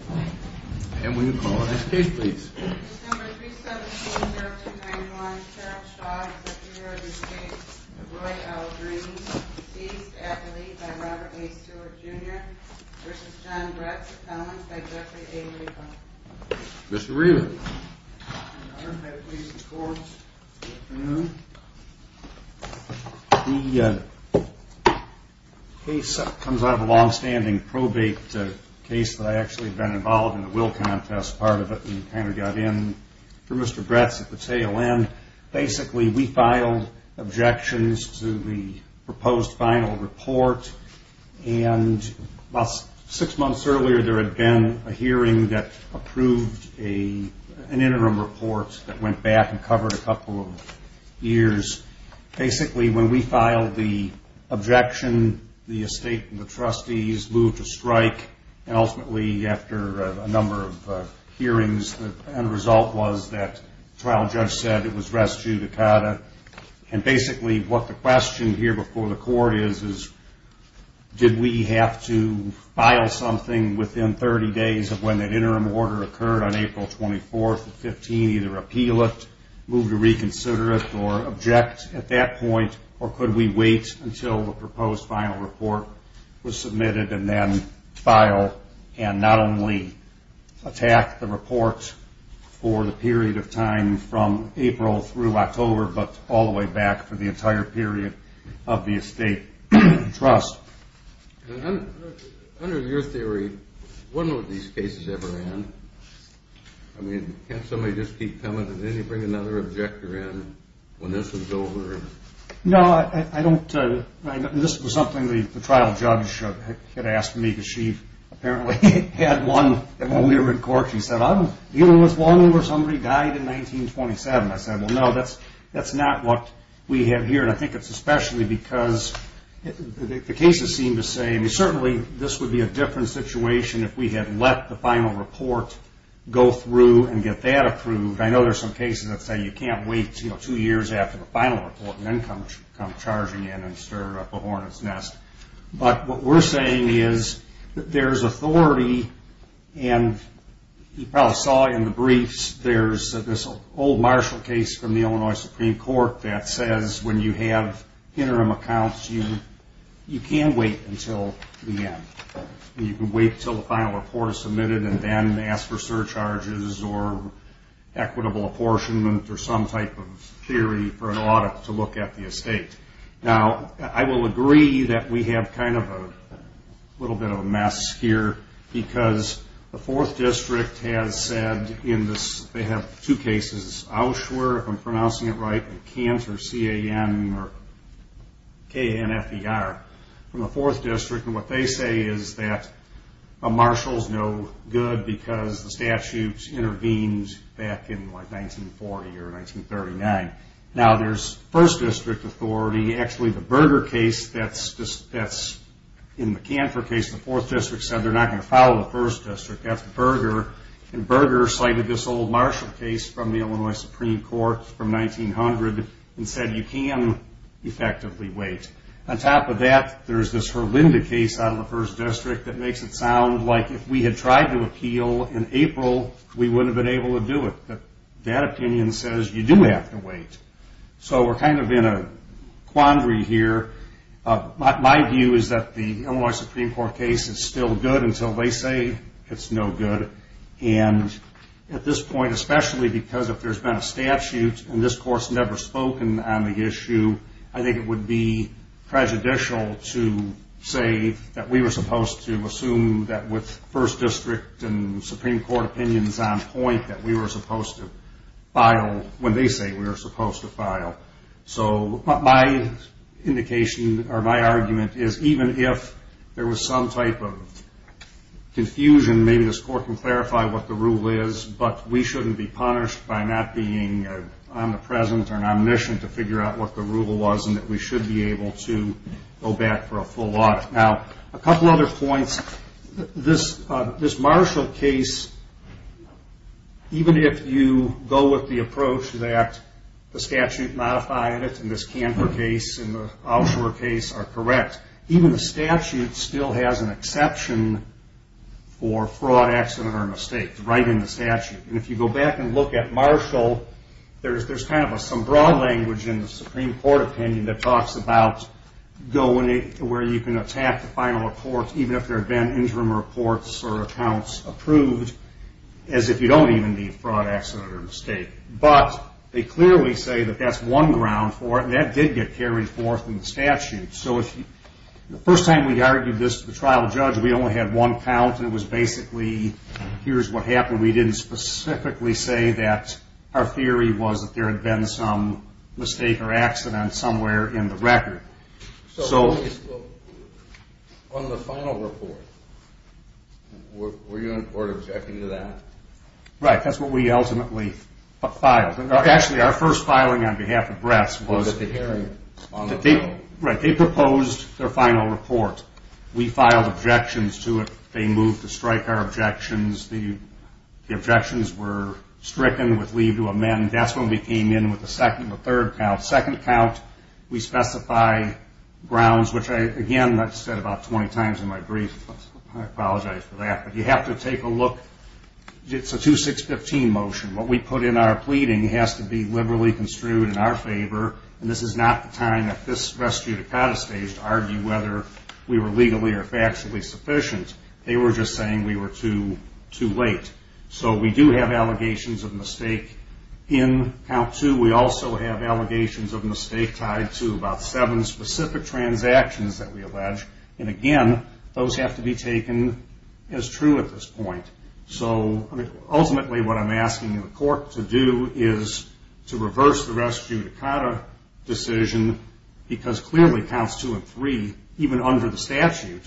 And we will call the next case please. Number 317-0291, Cheryl Shaw is a three year old estate of Roy L. Green, deceased athlete by Robert A. Stewart, Jr. vs. John Brett Cappellans by Jeffrey A. Reardon. Mr. Reardon. The case comes out of a long standing probate case that I actually have been involved in the will contest part of it and kind of got in for Mr. Brett's at the tail end. Basically we filed objections to the proposed final report and about six months earlier there had been a hearing that approved an interim report that went back and covered a couple of years. Basically when we filed the objection the estate and the trustees moved to strike and ultimately after a number of hearings the end result was that the trial judge said it was res judicata. And basically what the question here before the court is did we have to file something within 30 days of when that interim order occurred on April 24th of 15, either appeal it, move to reconsider it or object at that point or could we wait until the proposed final report was submitted and then file and not only attack the report for the period of time from April through October but all the way back for the entire period of the estate trust. Under your theory when will these cases ever end? Can't somebody just keep coming and then you bring another objector in when this is over? No, this was something the trial judge had asked me because she apparently had one when we were in court. She said I'm dealing with one where somebody died in 1927. I said no, that's not what we have here and I think it's especially because the cases seem to say certainly this would be a different situation if we had let the final report go through and get that approved. I know there are some cases that say you can't wait two years after the final report and then come charging in and stir up a horn in its nest. But what we're saying is that there's authority and you probably saw in the briefs there's this old Marshall case from the Illinois Supreme Court that says when you have interim accounts you can't wait until the end. You can wait until the final report is submitted and then ask for surcharges or equitable apportionment or some type of theory for an audit to look at the estate. Now, I will agree that we have kind of a little bit of a mess here because the 4th District has said in this, they have two cases, Auschwitz, if I'm pronouncing it right, K-A-N-F-E-R from the 4th District and what they say is that a Marshall's no good because the statutes intervened back in 1940 or 1939. Now, there's 1st District authority. Actually, the Berger case that's in the Kanfor case, the 4th District said they're not going to follow the 1st District. That's Berger and Berger cited this old Marshall case from the Illinois Supreme Court from 1900 and said you can effectively wait. On top of that, there's this Herlinda case out of the 1st District that makes it sound like if we had tried to appeal in April, we do have to wait. So, we're kind of in a quandary here. My view is that the Illinois Supreme Court case is still good until they say it's no good and at this point, especially because if there's been a statute and this Court's never spoken on the issue, I think it would be prejudicial to say that we were supposed to assume that with 1st District and Supreme Court opinions on point that we were supposed to file when they say we were supposed to file. So, my indication or my argument is even if there was some type of confusion, maybe this Court can clarify what the rule is, but we shouldn't be punished by not being omnipresent or omniscient to figure out what the rule was and that we should be able to go back for a full audit. Now, a couple other points. This Marshall case, even if you go with the approach that the statute modified it and this Camper case and the Oshawa case are correct, even the statute still has an exception for fraud, accident, or mistake right in the statute. And if you go back and look at Marshall, there's kind of some broad language in the Supreme Court opinion that talks about going to where you can attack the final report even if there have been interim reports or accounts approved as if you don't even need fraud, accident, or mistake. But they clearly say that that's one ground for it and that did get carried forth in the statute. So, the first time we argued this to the trial judge, we only had one count and it was basically here's what happened. We didn't specifically say that our theory was that there had been some mistake or accident somewhere in the record. So, on the final report, were you in court objecting to that? Right. That's what we ultimately filed. Actually, our first filing on behalf of Bress was- Was it the hearing? Right. They proposed their final report. We filed objections to it. They moved to strike our objections. The objections were stricken with leave to amend. That's when we came in with the second and the third count. On the second count, we specify grounds, which, again, I've said about 20 times in my brief. I apologize for that. But you have to take a look. It's a 2-6-15 motion. What we put in our pleading has to be liberally construed in our favor, and this is not the time at this restitutive kind of stage to argue whether we were legally or factually sufficient. They were just saying we were too late. So, we do have allegations of mistake in count two. We also have allegations of mistake tied to about seven specific transactions that we allege, and, again, those have to be taken as true at this point. So, ultimately, what I'm asking the court to do is to reverse the restitutive decision because clearly counts two and three, even under the statute,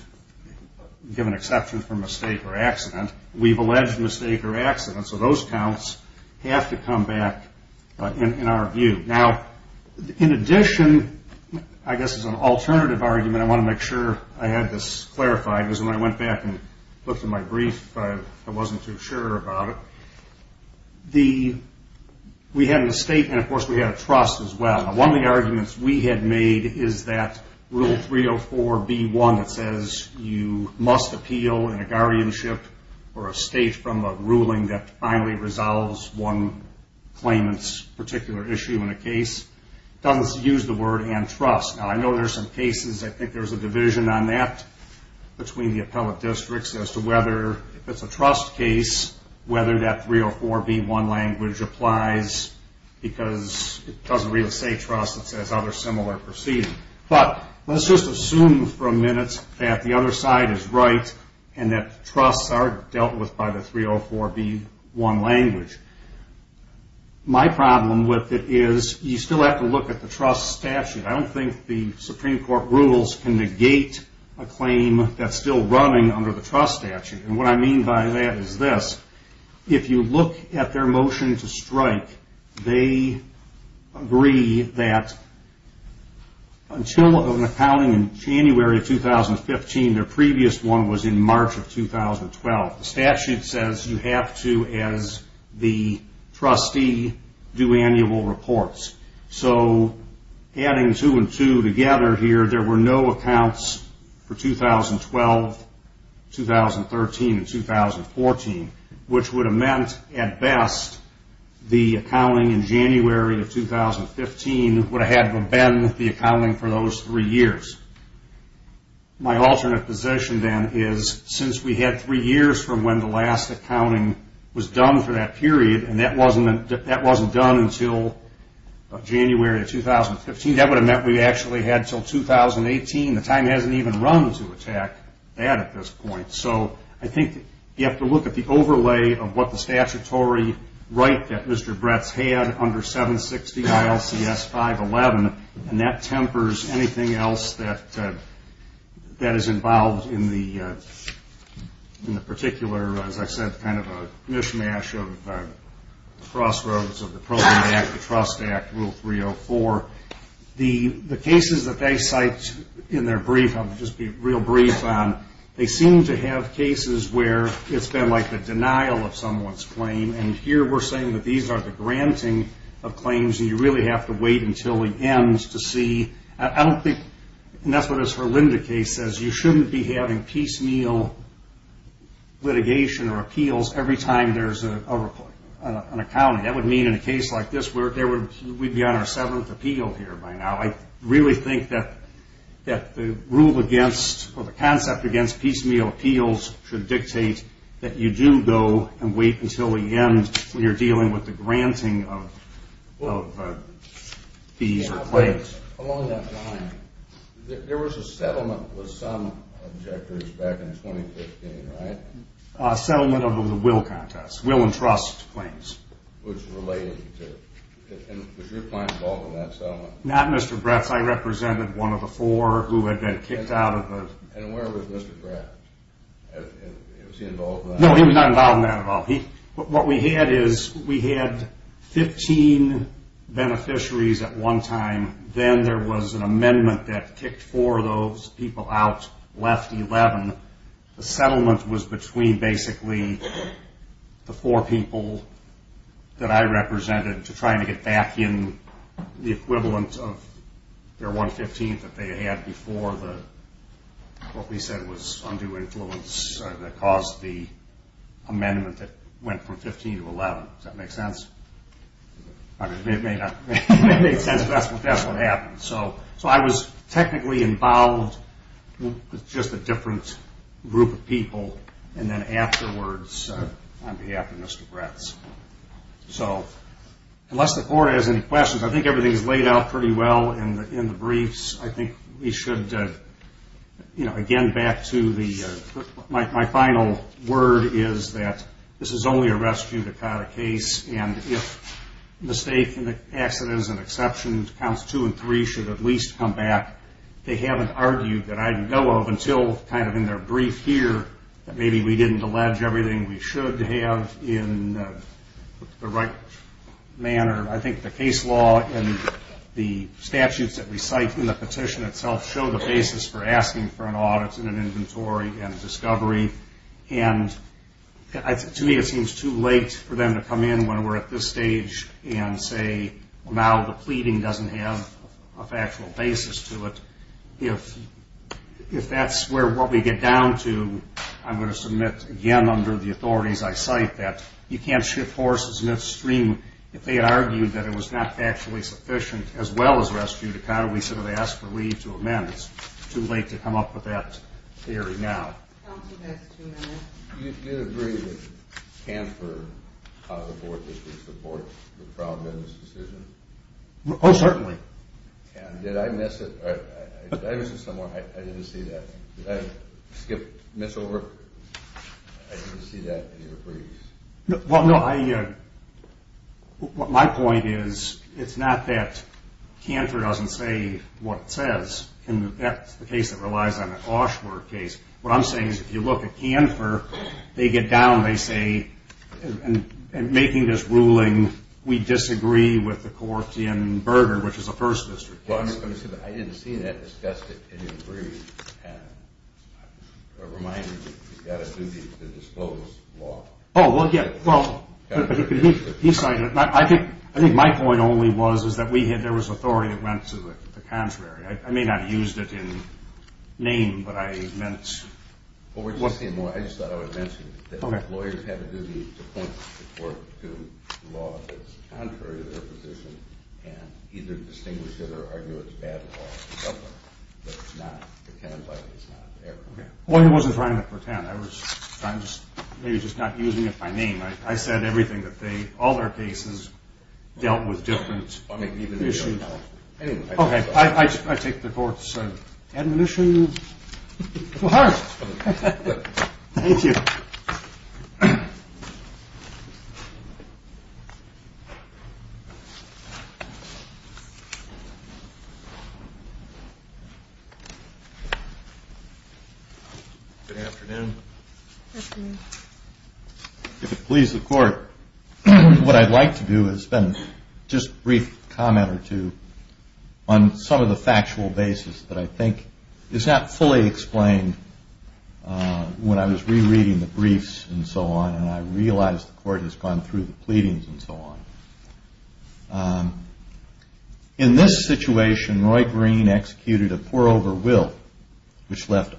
given exception for mistake or accident, we've alleged mistake or accident, so those counts have to come back in our view. Now, in addition, I guess as an alternative argument, I want to make sure I have this clarified because when I went back and looked at my brief, I wasn't too sure about it. We had a mistake, and, of course, we had a trust as well. One of the arguments we had made is that Rule 304b1 that says you must appeal in a guardianship or a state from a ruling that finally resolves one claimant's particular issue in a case, doesn't use the word antrust. Now, I know there's some cases, I think there's a division on that between the appellate districts as to whether if it's a trust case, whether that 304b1 language applies because it doesn't really say trust, it says other similar proceedings. But let's just assume for a minute that the other side is right and that trusts aren't dealt with by the 304b1 language. My problem with it is you still have to look at the trust statute. I don't think the Supreme Court rules can negate a claim that's still running under the trust statute. What I mean by that is this. If you look at their motion to strike, they agree that until an accounting in January of 2015, their previous one was in March of 2012. The statute says you have to, as the trustee, do annual reports. So adding two and two together here, there were no accounts for 2012, 2013, and 2014, which would have meant, at best, the accounting in January of 2015 would have had them bend the accounting for those three years. My alternate position then is since we had three years from when the last accounting was done for that period and that wasn't done until January of 2015, that would have meant we actually had until 2018. The time hasn't even run to attack that at this point. So I think you have to look at the overlay of what the statutory right that Mr. Bretz had under 760 ILCS 511, and that tempers anything else that is involved in the particular, as I said, kind of a mishmash of the crossroads of the Program Act, the Trust Act, Rule 304. The cases that they cite in their brief, I'll just be real brief on, they seem to have cases where it's been like the denial of someone's claim, and here we're saying that these are the granting of claims, and you really have to wait until it ends to see. I don't think, and that's what this Herlinda case says, you shouldn't be having piecemeal litigation or appeals every time there's an accounting. That would mean in a case like this we'd be on our seventh appeal here by now. I really think that the rule against or the concept against piecemeal appeals should dictate that you do go and wait until the end when you're dealing with the granting of fees or claims. Yes, along that line, there was a settlement with some objectors back in 2015, right? A settlement of the will contest, will and trust claims. Which related to, was your client involved in that settlement? Not Mr. Bratz. I represented one of the four who had been kicked out of the... And where was Mr. Bratz? Was he involved in that? No, he was not involved in that at all. What we had is we had 15 beneficiaries at one time, then there was an amendment that kicked four of those people out, left 11. The settlement was between basically the four people that I represented to try and get back in the equivalent of their 115th that they had before the, what we said was undue influence that caused the amendment that went from 15 to 11. Does that make sense? It may not make sense, but that's what happened. So I was technically involved with just a different group of people, and then afterwards on behalf of Mr. Bratz. So unless the court has any questions, I think everything is laid out pretty well in the briefs. I think we should, again, back to the... My final word is that this is only a rescue to cut a case, and if mistake and accident is an exception, counts two and three should at least come back. They haven't argued that I know of until kind of in their brief here that maybe we didn't allege everything we should have in the right manner. I think the case law and the statutes that we cite in the petition itself show the basis for asking for an audit and an inventory and a discovery, and to me it seems too late for them to come in when we're at this stage and say, well, now the pleading doesn't have a factual basis to it. If that's what we get down to, I'm going to submit again under the authorities I cite that you can't ship horses in a stream if they argue that it was not factually sufficient as well as rescue to cut it. We should have asked for leave to amend. It's too late to come up with that theory now. I'll give you guys two minutes. Do you agree that Canfor caused abortions to support the fraud business decision? Oh, certainly. And did I miss it? Did I miss it somewhere? I didn't see that. Did I skip, miss over? I didn't see that in your briefs. Well, no, my point is it's not that Canfor doesn't say what it says, and that's the case that relies on the Klauschberg case. What I'm saying is if you look at Canfor, they get down, they say, in making this ruling we disagree with the court in Berger, which is a First District case. I didn't see that discussed in your brief. And I'm reminded that you've got a duty to disclose law. Oh, well, yeah. Well, he cited it. I think my point only was is that there was authority that went to the contrary. I may not have used it in name, but I meant... Well, I just thought I would mention that lawyers have a duty to point the court to law that's contrary to their position and either distinguish it or argue it's bad law. But it's not... Well, he wasn't trying to pretend. I was maybe just not using it by name. I said everything that they, all their cases, dealt with different issues. Okay, I take the court's admonition to heart. Thank you. Good afternoon. Good afternoon. If it pleases the court, what I'd like to do is spend just a brief comment or two on some of the factual basis that I think is not fully explained when I was rereading the briefs and so on, and I realize the court has gone through the pleadings and so on. In this situation, Roy Green executed a pour-over will, which left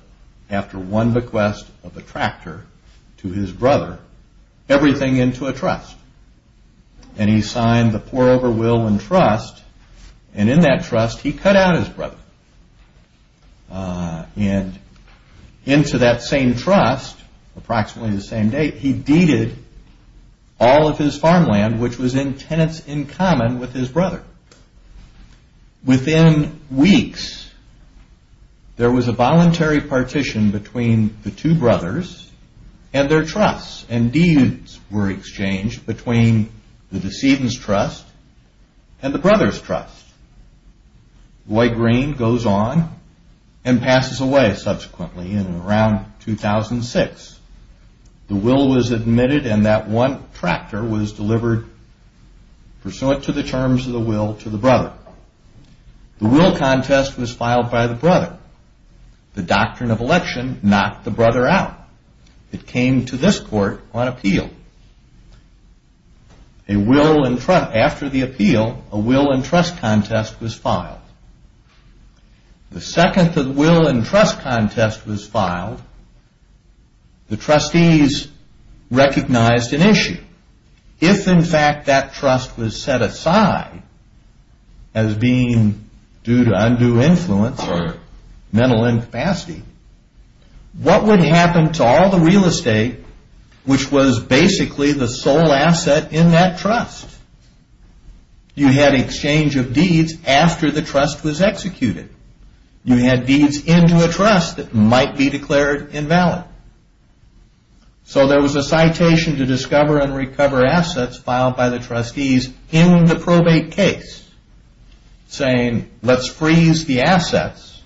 after one bequest of a tractor to his brother, everything into a trust. And he signed the pour-over will and trust, and in that trust, he cut out his brother. And into that same trust, approximately the same date, he deeded all of his farmland, which was in tenants in common with his brother. Within weeks, there was a voluntary partition between the two brothers and their trusts, and deeds were exchanged between the decedent's trust and the brother's trust. Roy Green goes on and passes away subsequently in around 2006. The will was admitted, and that one tractor was delivered, pursuant to the terms of the will, to the brother. The will contest was filed by the brother. The doctrine of election knocked the brother out. It came to this court on appeal. The second will and trust contest was filed. The trustees recognized an issue. If, in fact, that trust was set aside as being due to undue influence or mental incapacity, what would happen to all the real estate, which was basically the sole asset in that trust? You had exchange of deeds after the trust was executed. You had deeds into a trust that might be declared invalid. So there was a citation to discover and recover assets filed by the trustees in the probate case, saying, let's freeze the assets,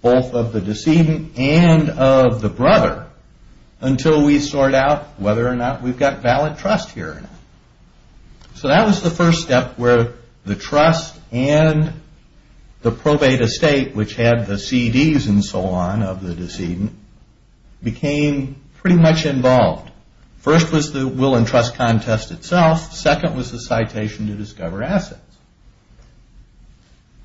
both of the decedent and of the brother, until we sort out whether or not we've got valid trust here or not. So that was the first step where the trust and the probate estate, which had the CDs and so on of the decedent, became pretty much involved. First was the will and trust contest itself. Second was the citation to discover assets.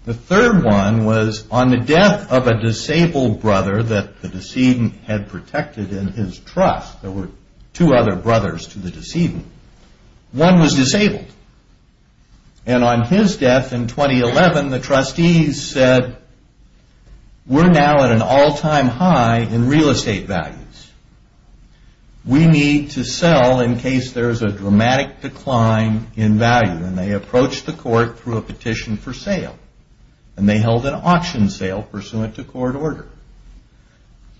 The third one was on the death of a disabled brother that the decedent had protected in his trust. There were two other brothers to the decedent. One was disabled. And on his death in 2011, the trustees said, we're now at an all-time high in real estate values. We need to sell in case there's a dramatic decline in value. And they approached the court through a petition for sale. And they held an auction sale pursuant to court order.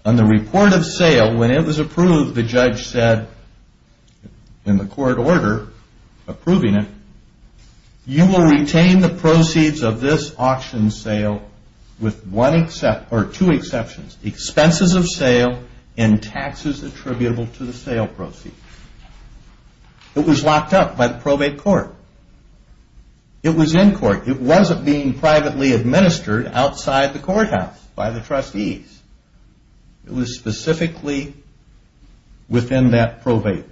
On the report of sale, when it was approved, the judge said, in the court order approving it, you will retain the proceeds of this auction sale with two exceptions, expenses of sale and taxes attributable to the sale proceeds. It was locked up by the probate court. It was in court. It wasn't being privately administered outside the courthouse by the trustees. It was specifically within that probate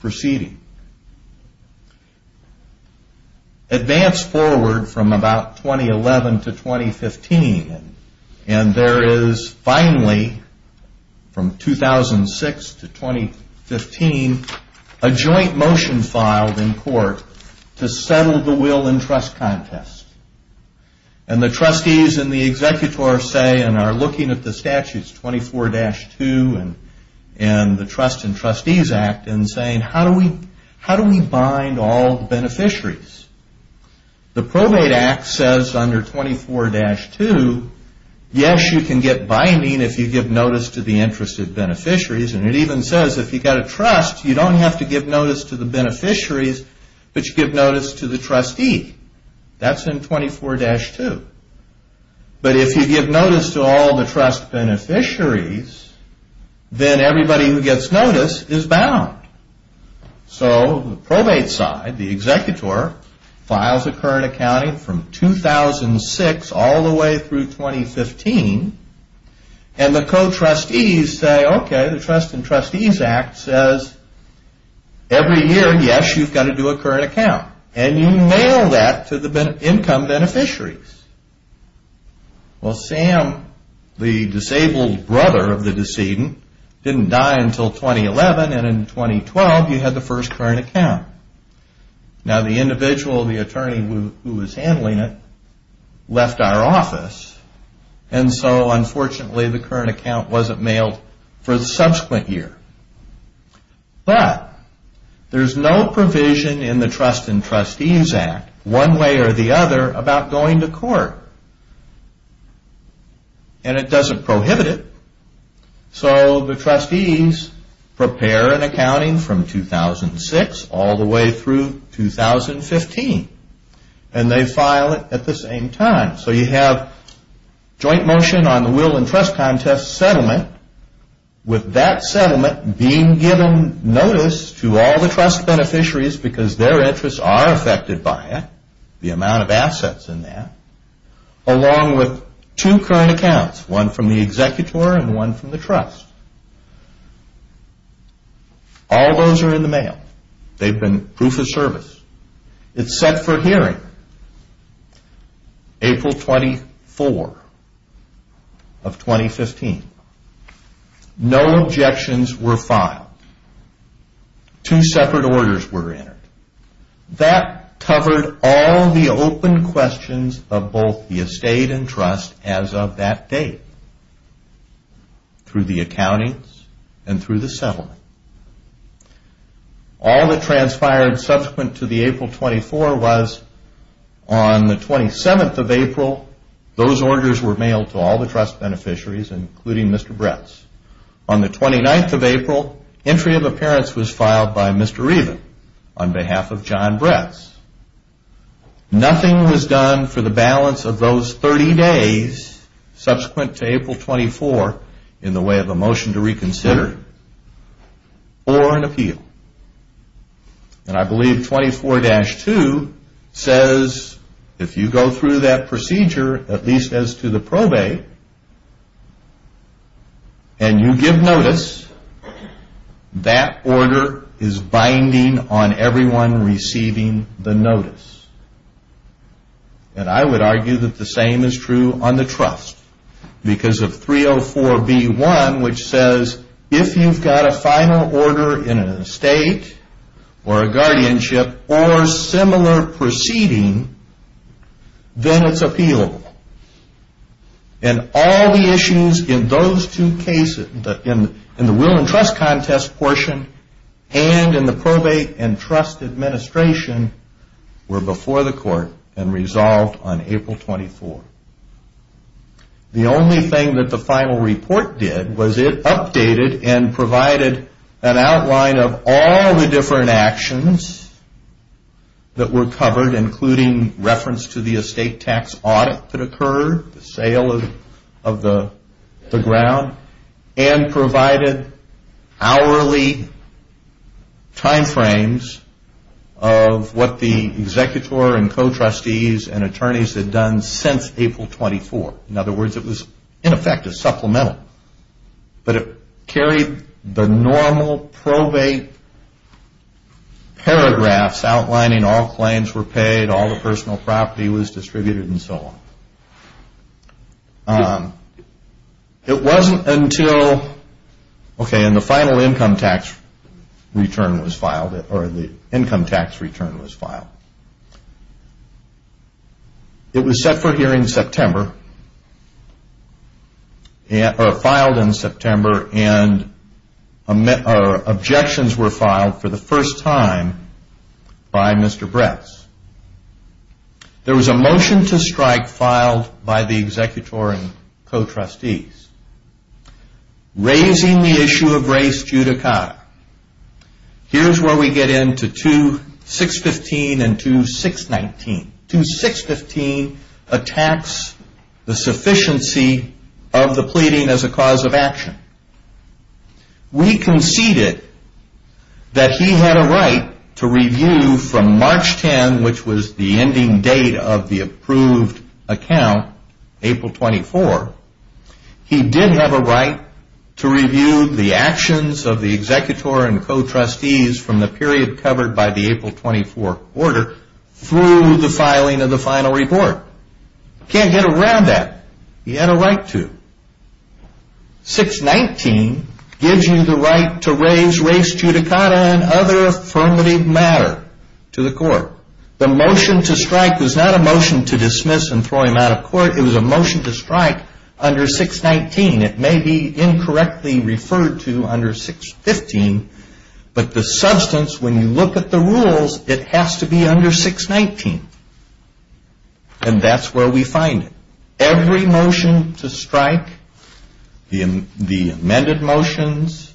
proceeding. Advance forward from about 2011 to 2015, and there is finally, from 2006 to 2015, a joint motion filed in court to settle the will and trust contest. And the trustees and the executor say, and are looking at the statutes 24-2 and the Trusts and Trustees Act and saying, how do we bind all the beneficiaries? The Probate Act says under 24-2, yes, you can get binding if you give notice to the interested beneficiaries. And it even says if you've got a trust, you don't have to give notice to the beneficiaries, but you give notice to the trustee. That's in 24-2. But if you give notice to all the trust beneficiaries, then everybody who gets notice is bound. So the probate side, the executor, files a current accounting from 2006 all the way through 2015, and the co-trustees say, okay, the Trusts and Trustees Act says every year, yes, you've got to do a current account, and you mail that to the income beneficiaries. Well, Sam, the disabled brother of the decedent, didn't die until 2011, and in 2012 you had the first current account. Now, the individual, the attorney who was handling it, left our office, and so unfortunately the current account wasn't mailed for the subsequent year. But there's no provision in the Trusts and Trustees Act, one way or the other, about going to court. And it doesn't prohibit it. So the trustees prepare an accounting from 2006 all the way through 2015, and they file it at the same time. So you have joint motion on the Will and Trust Contest settlement. With that settlement being given notice to all the trust beneficiaries, because their interests are affected by it, the amount of assets in that, along with two current accounts, one from the executor and one from the trust. All those are in the mail. They've been proof of service. It's set for hearing April 24 of 2015. No objections were filed. Two separate orders were entered. That covered all the open questions of both the estate and trust as of that date, through the accountings and through the settlement. All that transpired subsequent to the April 24 was on the 27th of April, those orders were mailed to all the trust beneficiaries, including Mr. Bretz. On the 29th of April, entry of appearance was filed by Mr. Reaven on behalf of John Bretz. Nothing was done for the balance of those 30 days subsequent to April 24 in the way of a motion to reconsider or an appeal. And I believe 24-2 says if you go through that procedure, at least as to the probate, and you give notice, that order is binding on everyone receiving the notice. And I would argue that the same is true on the trust. Because of 304B1, which says if you've got a final order in an estate or a guardianship or similar proceeding, then it's appealable. And all the issues in those two cases, in the will and trust contest portion and in the probate and trust administration were before the court and resolved on April 24. The only thing that the final report did was it updated and provided an outline of all the different actions that were covered, including reference to the estate tax audit that occurred, the sale of the ground, and provided hourly timeframes of what the executor and co-trustees and attorneys had done since April 24. In other words, it was in effect a supplemental. But it carried the normal probate paragraphs outlining all claims were paid, all the personal property was distributed, and so on. It wasn't until, okay, and the final income tax return was filed, or the income tax return was filed. It was set for hearing in September, or filed in September, and objections were filed for the first time by Mr. Bretz. There was a motion to strike filed by the executor and co-trustees, raising the issue of race judicata. Here's where we get into 2.615 and 2.619. 2.615 attacks the sufficiency of the pleading as a cause of action. We conceded that he had a right to review from March 10, which was the ending date of the approved account, April 24. He did have a right to review the actions of the executor and co-trustees from the period covered by the April 24 order through the filing of the final report. Can't get around that. He had a right to. 6.19 gives you the right to raise race judicata and other affirmative matter to the court. The motion to strike was not a motion to dismiss and throw him out of court. It was a motion to strike under 6.19. It may be incorrectly referred to under 6.15, but the substance, when you look at the rules, it has to be under 6.19, and that's where we find it. Every motion to strike, the amended motions,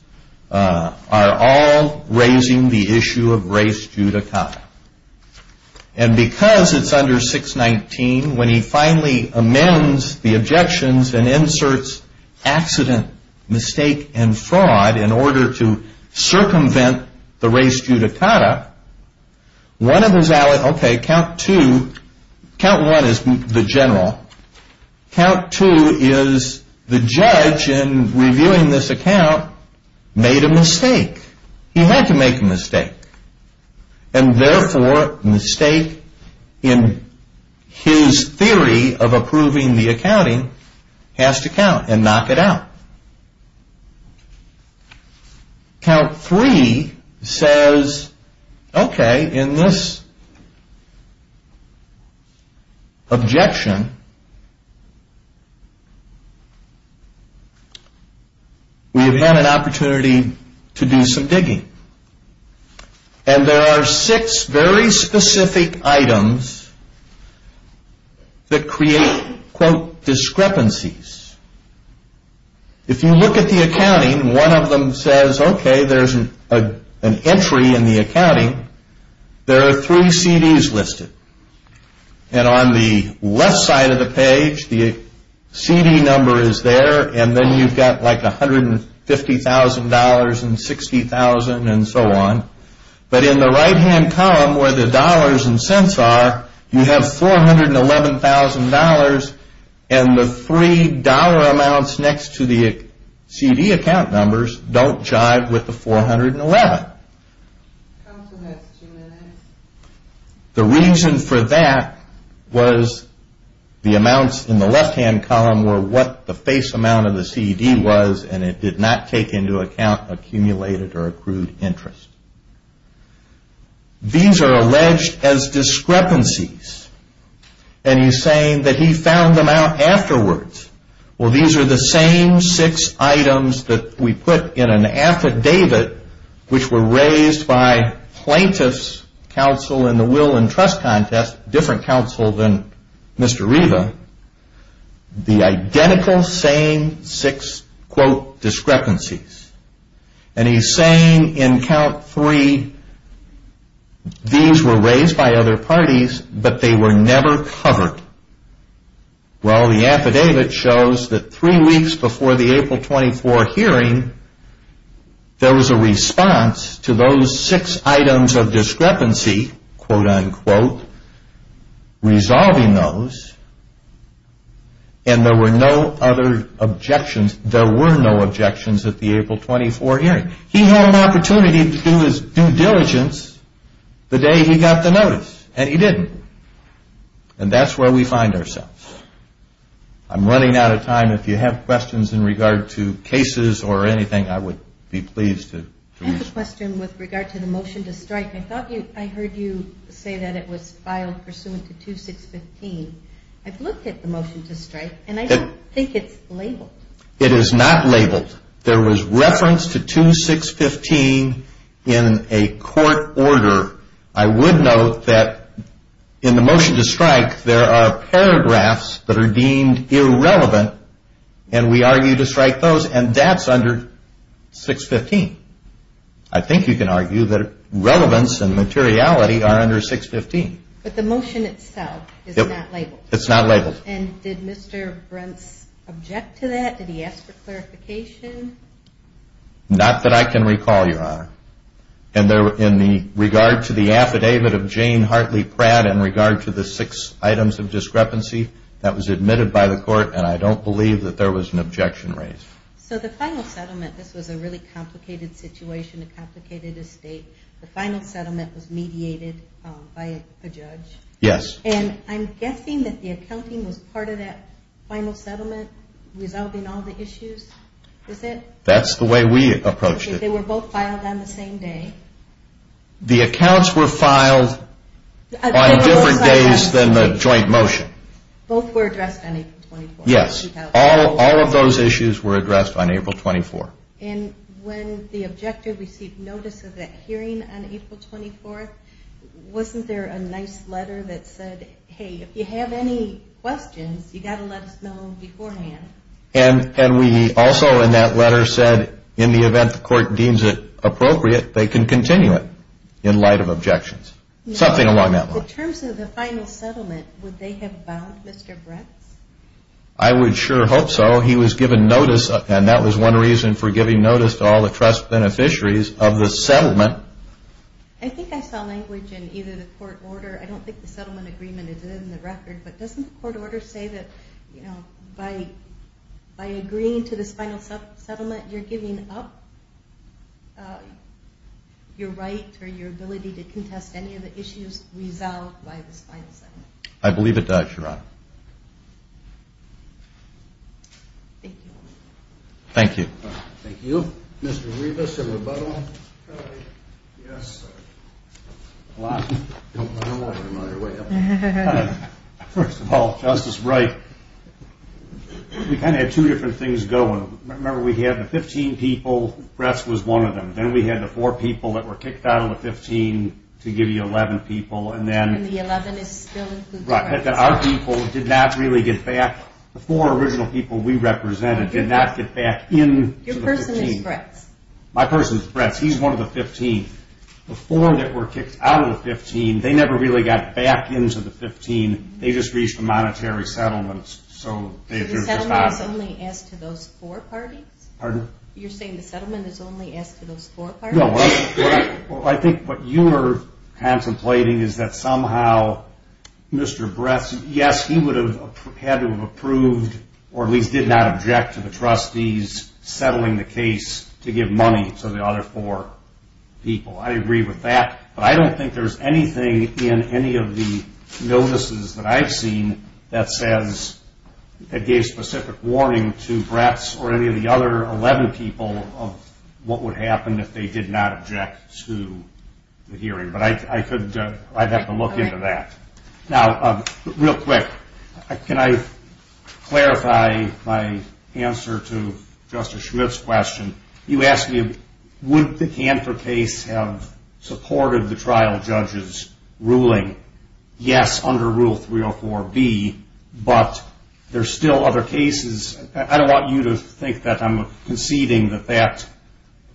are all raising the issue of race judicata. And because it's under 6.19, when he finally amends the objections and inserts accident, mistake, and fraud in order to circumvent the race judicata, one of his allies, okay, count two, count one is the general, count two is the judge in reviewing this account made a mistake. He had to make a mistake. And therefore, mistake in his theory of approving the accounting has to count and knock it out. Count three says, okay, in this objection, we have had an opportunity to do some digging. And there are six very specific items that create, quote, discrepancies. If you look at the accounting, one of them says, okay, there's an entry in the accounting. There are three CDs listed. And on the left side of the page, the CD number is there, and then you've got like $150,000 and $60,000 and so on. But in the right-hand column where the dollars and cents are, you have $411,000, and the three dollar amounts next to the CD account numbers don't jive with the 411. The reason for that was the amounts in the left-hand column were what the face amount of the CD was, and it did not take into account accumulated or accrued interest. These are alleged as discrepancies. And he's saying that he found them out afterwards. Well, these are the same six items that we put in an affidavit, which were raised by plaintiff's counsel in the will and trust contest, different counsel than Mr. Reva. The identical same six, quote, discrepancies. And he's saying in count three, these were raised by other parties, but they were never covered. Well, the affidavit shows that three weeks before the April 24 hearing, there was a response to those six items of discrepancy, quote, unquote, resolving those, and there were no other objections. There were no objections at the April 24 hearing. He had an opportunity to do his due diligence the day he got the notice, and he didn't. And that's where we find ourselves. I'm running out of time. If you have questions in regard to cases or anything, I would be pleased to. I have a question with regard to the motion to strike. I thought I heard you say that it was filed pursuant to 2615. I've looked at the motion to strike, and I don't think it's labeled. It is not labeled. There was reference to 2615 in a court order. I would note that in the motion to strike, there are paragraphs that are deemed irrelevant, and we argue to strike those, and that's under 615. I think you can argue that relevance and materiality are under 615. But the motion itself is not labeled. It's not labeled. And did Mr. Brents object to that? Did he ask for clarification? Not that I can recall, Your Honor. In regard to the affidavit of Jane Hartley Pratt in regard to the six items of discrepancy, that was admitted by the court, and I don't believe that there was an objection raised. So the final settlement, this was a really complicated situation, a complicated estate. The final settlement was mediated by a judge. Yes. And I'm guessing that the accounting was part of that final settlement, resolving all the issues, is it? That's the way we approached it. They were both filed on the same day. The accounts were filed on different days than the joint motion. Both were addressed on April 24th. Yes. All of those issues were addressed on April 24th. And when the objector received notice of that hearing on April 24th, wasn't there a nice letter that said, hey, if you have any questions, you've got to let us know beforehand. And we also in that letter said, in the event the court deems it appropriate, they can continue it in light of objections. Something along that line. In terms of the final settlement, would they have bound Mr. Bretz? I would sure hope so. He was given notice, and that was one reason for giving notice to all the trust beneficiaries of the settlement. I think I saw language in either the court order. I don't think the settlement agreement is in the record. But doesn't the court order say that, you know, by agreeing to this final settlement, you're giving up your right or your ability to contest any of the issues resolved by this final settlement? I believe it does, Your Honor. Thank you. Thank you. Thank you. Mr. Rebus, a rebuttal? Yes. First of all, Justice Wright, we kind of had two different things going. Remember we had the 15 people, Bretz was one of them. Then we had the four people that were kicked out of the 15 to give you 11 people. And then our people did not really get back. The four original people we represented did not get back in. Your person is Bretz. My person is Bretz. He's one of the 15. The four that were kicked out of the 15, they never really got back into the 15. They just reached a monetary settlement. The settlement is only asked to those four parties? Pardon? You're saying the settlement is only asked to those four parties? No. I think what you are contemplating is that somehow Mr. Bretz, yes, he would have had to have approved or at least did not object to the trustees settling the case to give money to the other four people. I agree with that. But I don't think there's anything in any of the notices that I've seen that says that gave specific warning to Bretz or any of the other 11 people of what would happen if they did not object to the hearing. But I'd have to look into that. Now, real quick, can I clarify my answer to Justice Schmidt's question? You asked me would the Canfor case have supported the trial judge's ruling? Yes, under Rule 304B, but there's still other cases. I don't want you to think that I'm conceding the fact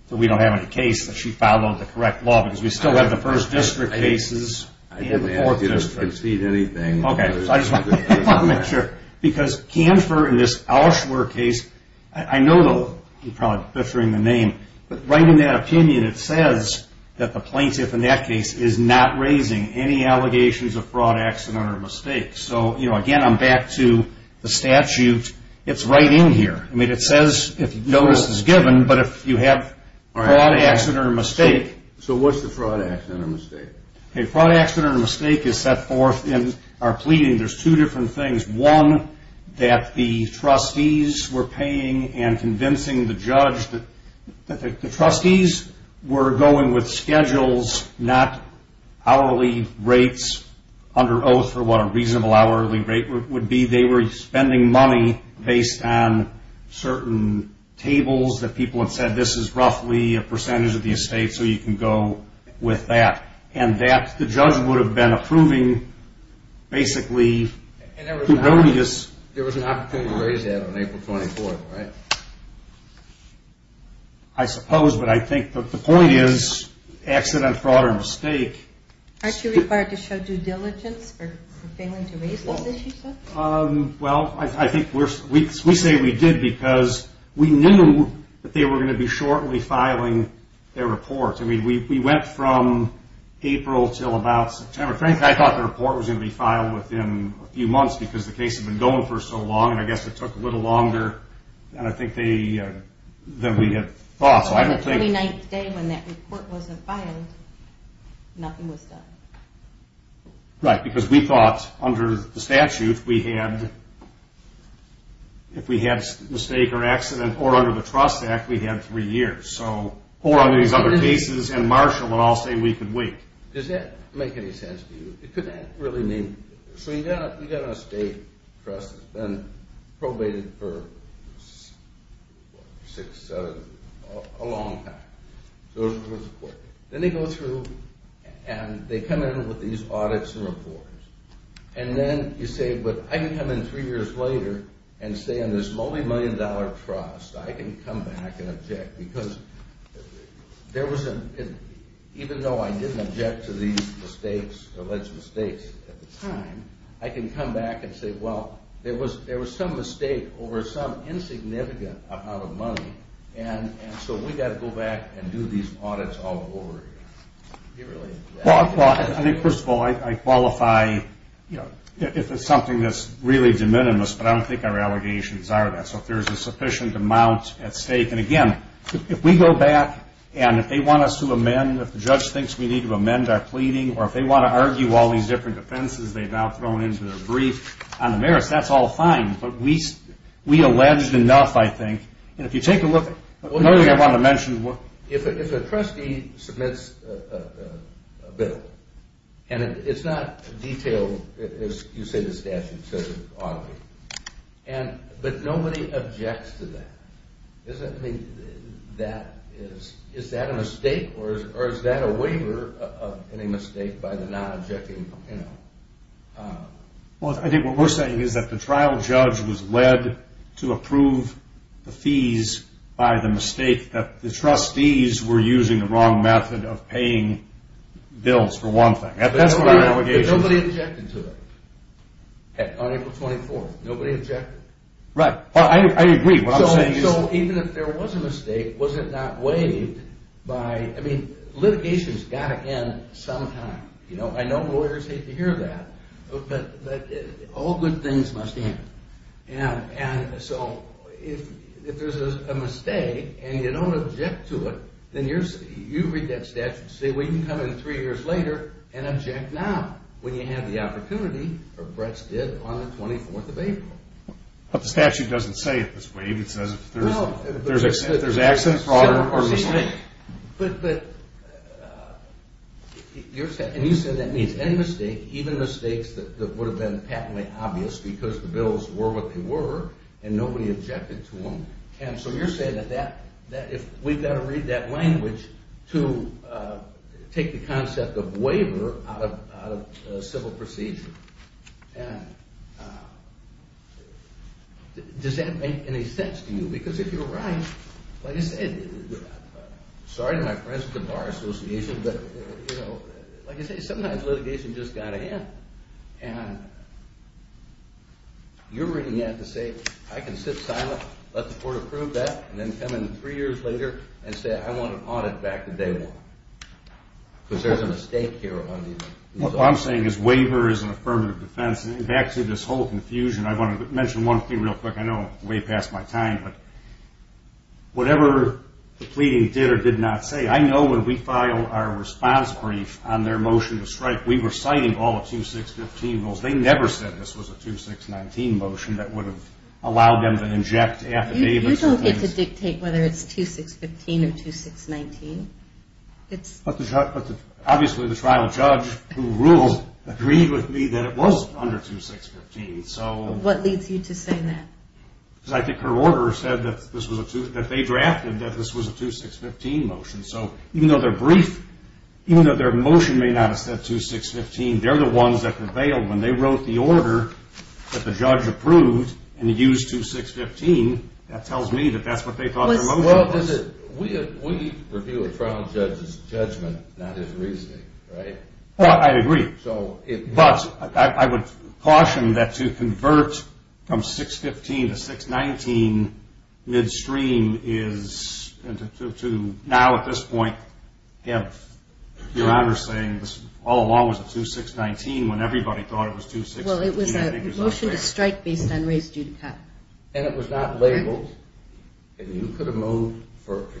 that we don't have any case that she followed the correct law because we still have the first district cases and the fourth district. I didn't ask you to concede anything. Okay, so I just want to make sure. Because Canfor in this Auschwer case, I know you're probably butchering the name, but right in that opinion it says that the plaintiff in that case is not raising any allegations of fraud, accident, or mistake. So, again, I'm back to the statute. It's right in here. I mean, it says if notice is given, but if you have fraud, accident, or mistake. So what's the fraud, accident, or mistake? Okay, fraud, accident, or mistake is set forth in our pleading. There's two different things. One, that the trustees were paying and convincing the judge that the trustees were going with schedules, not hourly rates under oath or what a reasonable hourly rate would be. They were spending money based on certain tables that people had said this is roughly a percentage of the estate, so you can go with that. And that the judge would have been approving basically. There was an opportunity to raise that on April 24th, right? I suppose, but I think the point is accident, fraud, or mistake. Aren't you required to show due diligence for failing to raise those issues? Well, I think we say we did because we knew that they were going to be shortly filing their report. I mean, we went from April until about September. Frankly, I thought the report was going to be filed within a few months because the case had been going for so long, and I guess it took a little longer than I think we had thought. On the 29th day when that report wasn't filed, nothing was done. Right, because we thought under the statute, if we had a mistake or accident, or under the trust act, we had three years. Or under these other cases, and Marshall would all say we could wait. Does that make any sense to you? Could that really mean? So you've got an estate trust that's been probated for six, seven, a long time. Then they go through and they come in with these audits and reports. And then you say, but I can come in three years later and say on this multi-million dollar trust, I can come back and object because even though I didn't object to these alleged mistakes at the time, I can come back and say, well, there was some mistake over some insignificant amount of money, and so we've got to go back and do these audits all over again. I think, first of all, I qualify if it's something that's really de minimis, but I don't think our allegations are that. So if there's a sufficient amount at stake. And, again, if we go back and if they want us to amend, if the judge thinks we need to amend our pleading, or if they want to argue all these different offenses they've now thrown into their brief, on the merits, that's all fine. But we alleged enough, I think. And if you take a look, another thing I want to mention. If a trustee submits a bill, and it's not detailed as you say the statute says it ought to be, but nobody objects to that, is that a mistake? Or is that a waiver of any mistake by the non-objecting? Well, I think what we're saying is that the trial judge was led to approve the fees by the mistake that the trustees were using the wrong method of paying bills, for one thing. But nobody objected to that on April 24th. Nobody objected. Right. Well, I agree. What I'm saying is. So even if there was a mistake, was it not waived by, I mean, litigation's got to end sometime. You know, I know lawyers hate to hear that. But all good things must end. And so if there's a mistake, and you don't object to it, then you read that statute, say we can come in three years later and object now when you have the opportunity, or Bretz did, on the 24th of April. But the statute doesn't say if it's waived. It says if there's accident, fraud, or mistake. But you're saying, and you said that means any mistake, even mistakes that would have been patently obvious because the bills were what they were, and nobody objected to them. And so you're saying that if we've got to read that language to take the concept of waiver out of civil procedure, does that make any sense to you? Because if you're right, like I said, sorry to my friends at the Bar Association, but like I said, sometimes litigation's just got to end. And you're reading that to say I can sit silent, let the court approve that, and then come in three years later and say I want an audit back the day one. Because there's a mistake here. What I'm saying is waiver is an affirmative defense. And back to this whole confusion, I want to mention one thing real quick. I know it's way past my time, but whatever the pleading did or did not say, I know when we filed our response brief on their motion to strike, we were citing all the 2-6-15 rules. They never said this was a 2-6-19 motion that would have allowed them to inject affidavits. You don't get to dictate whether it's 2-6-15 or 2-6-19. But obviously the trial judge who rules agreed with me that it was under 2-6-15. What leads you to say that? Because I think her order said that they drafted that this was a 2-6-15 motion. So even though they're brief, even though their motion may not have said 2-6-15, they're the ones that prevailed when they wrote the order that the judge approved and used 2-6-15, that tells me that that's what they thought their motion was. We review a trial judge's judgment, not his reasoning, right? I agree. But I would caution that to convert from 6-15 to 6-19 midstream is to now at this point have your honor saying this all along was a 2-6-19 when everybody thought it was 2-6-15. Well, it was a motion to strike based on raised due to cut. And it was not labeled. And you could have moved,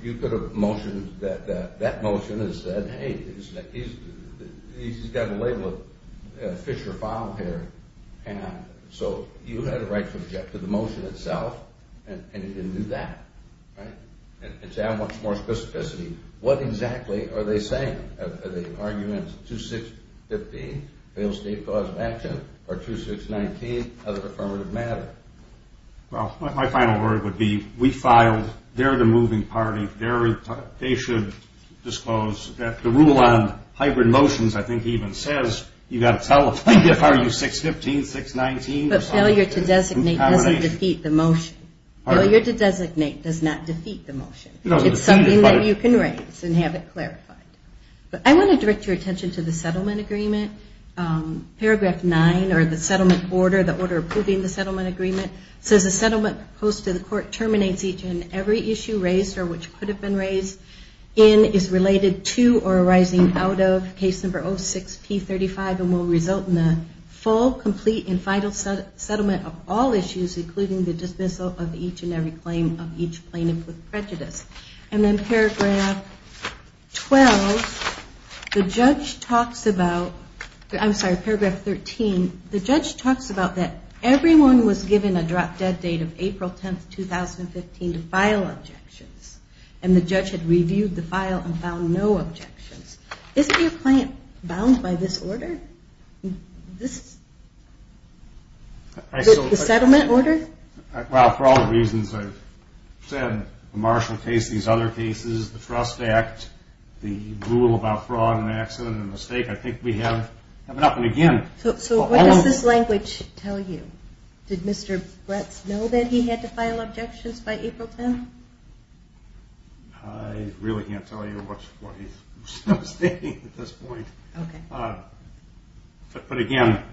you could have motioned that that motion has said, hey, he's got a label of fish or fowl here. So you had a right to object to the motion itself, and you didn't do that, right? And to add much more specificity, what exactly are they saying? Are they arguing it's 2-6-15, failed state cause of action, or 2-6-19, other affirmative matter? Well, my final word would be we filed. They're the moving party. They should disclose that the rule on hybrid motions I think even says you've got to tell if you're 6-15, 6-19. But failure to designate doesn't defeat the motion. Failure to designate does not defeat the motion. It's something that you can raise and have it clarified. But I want to direct your attention to the settlement agreement. Paragraph 9, or the settlement order, the order approving the settlement agreement, says a settlement proposed to the court terminates each and every issue raised or which could have been raised in is related to or arising out of case number 06-P35 and will result in a full, complete, and final settlement of all issues, including the dismissal of each and every claim of each plaintiff with prejudice. And then Paragraph 12, the judge talks about – I'm sorry, Paragraph 13. The judge talks about that everyone was given a drop-dead date of April 10, 2015, to file objections, and the judge had reviewed the file and found no objections. Isn't your claim bound by this order? The settlement order? Well, for all the reasons I've said, the Marshall case, these other cases, the Trust Act, the rule about fraud and accident and mistake, I think we have it up and again. So what does this language tell you? Did Mr. Bratz know that he had to file objections by April 10? I really can't tell you what he's stating at this point. Okay. But, again,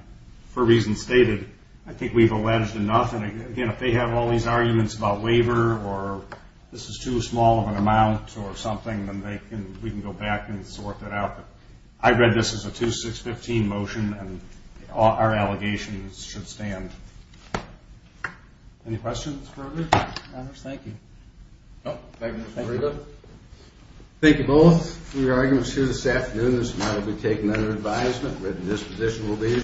for reasons stated, I think we've alleged enough. And, again, if they have all these arguments about waiver or this is too small of an amount or something, then we can go back and sort that out. But I read this as a 2-6-15 motion, and our allegations should stand. Any questions? Thank you. Thank you both for your arguments here this afternoon. This matter will be taken under advisement. Written disposition will be issued.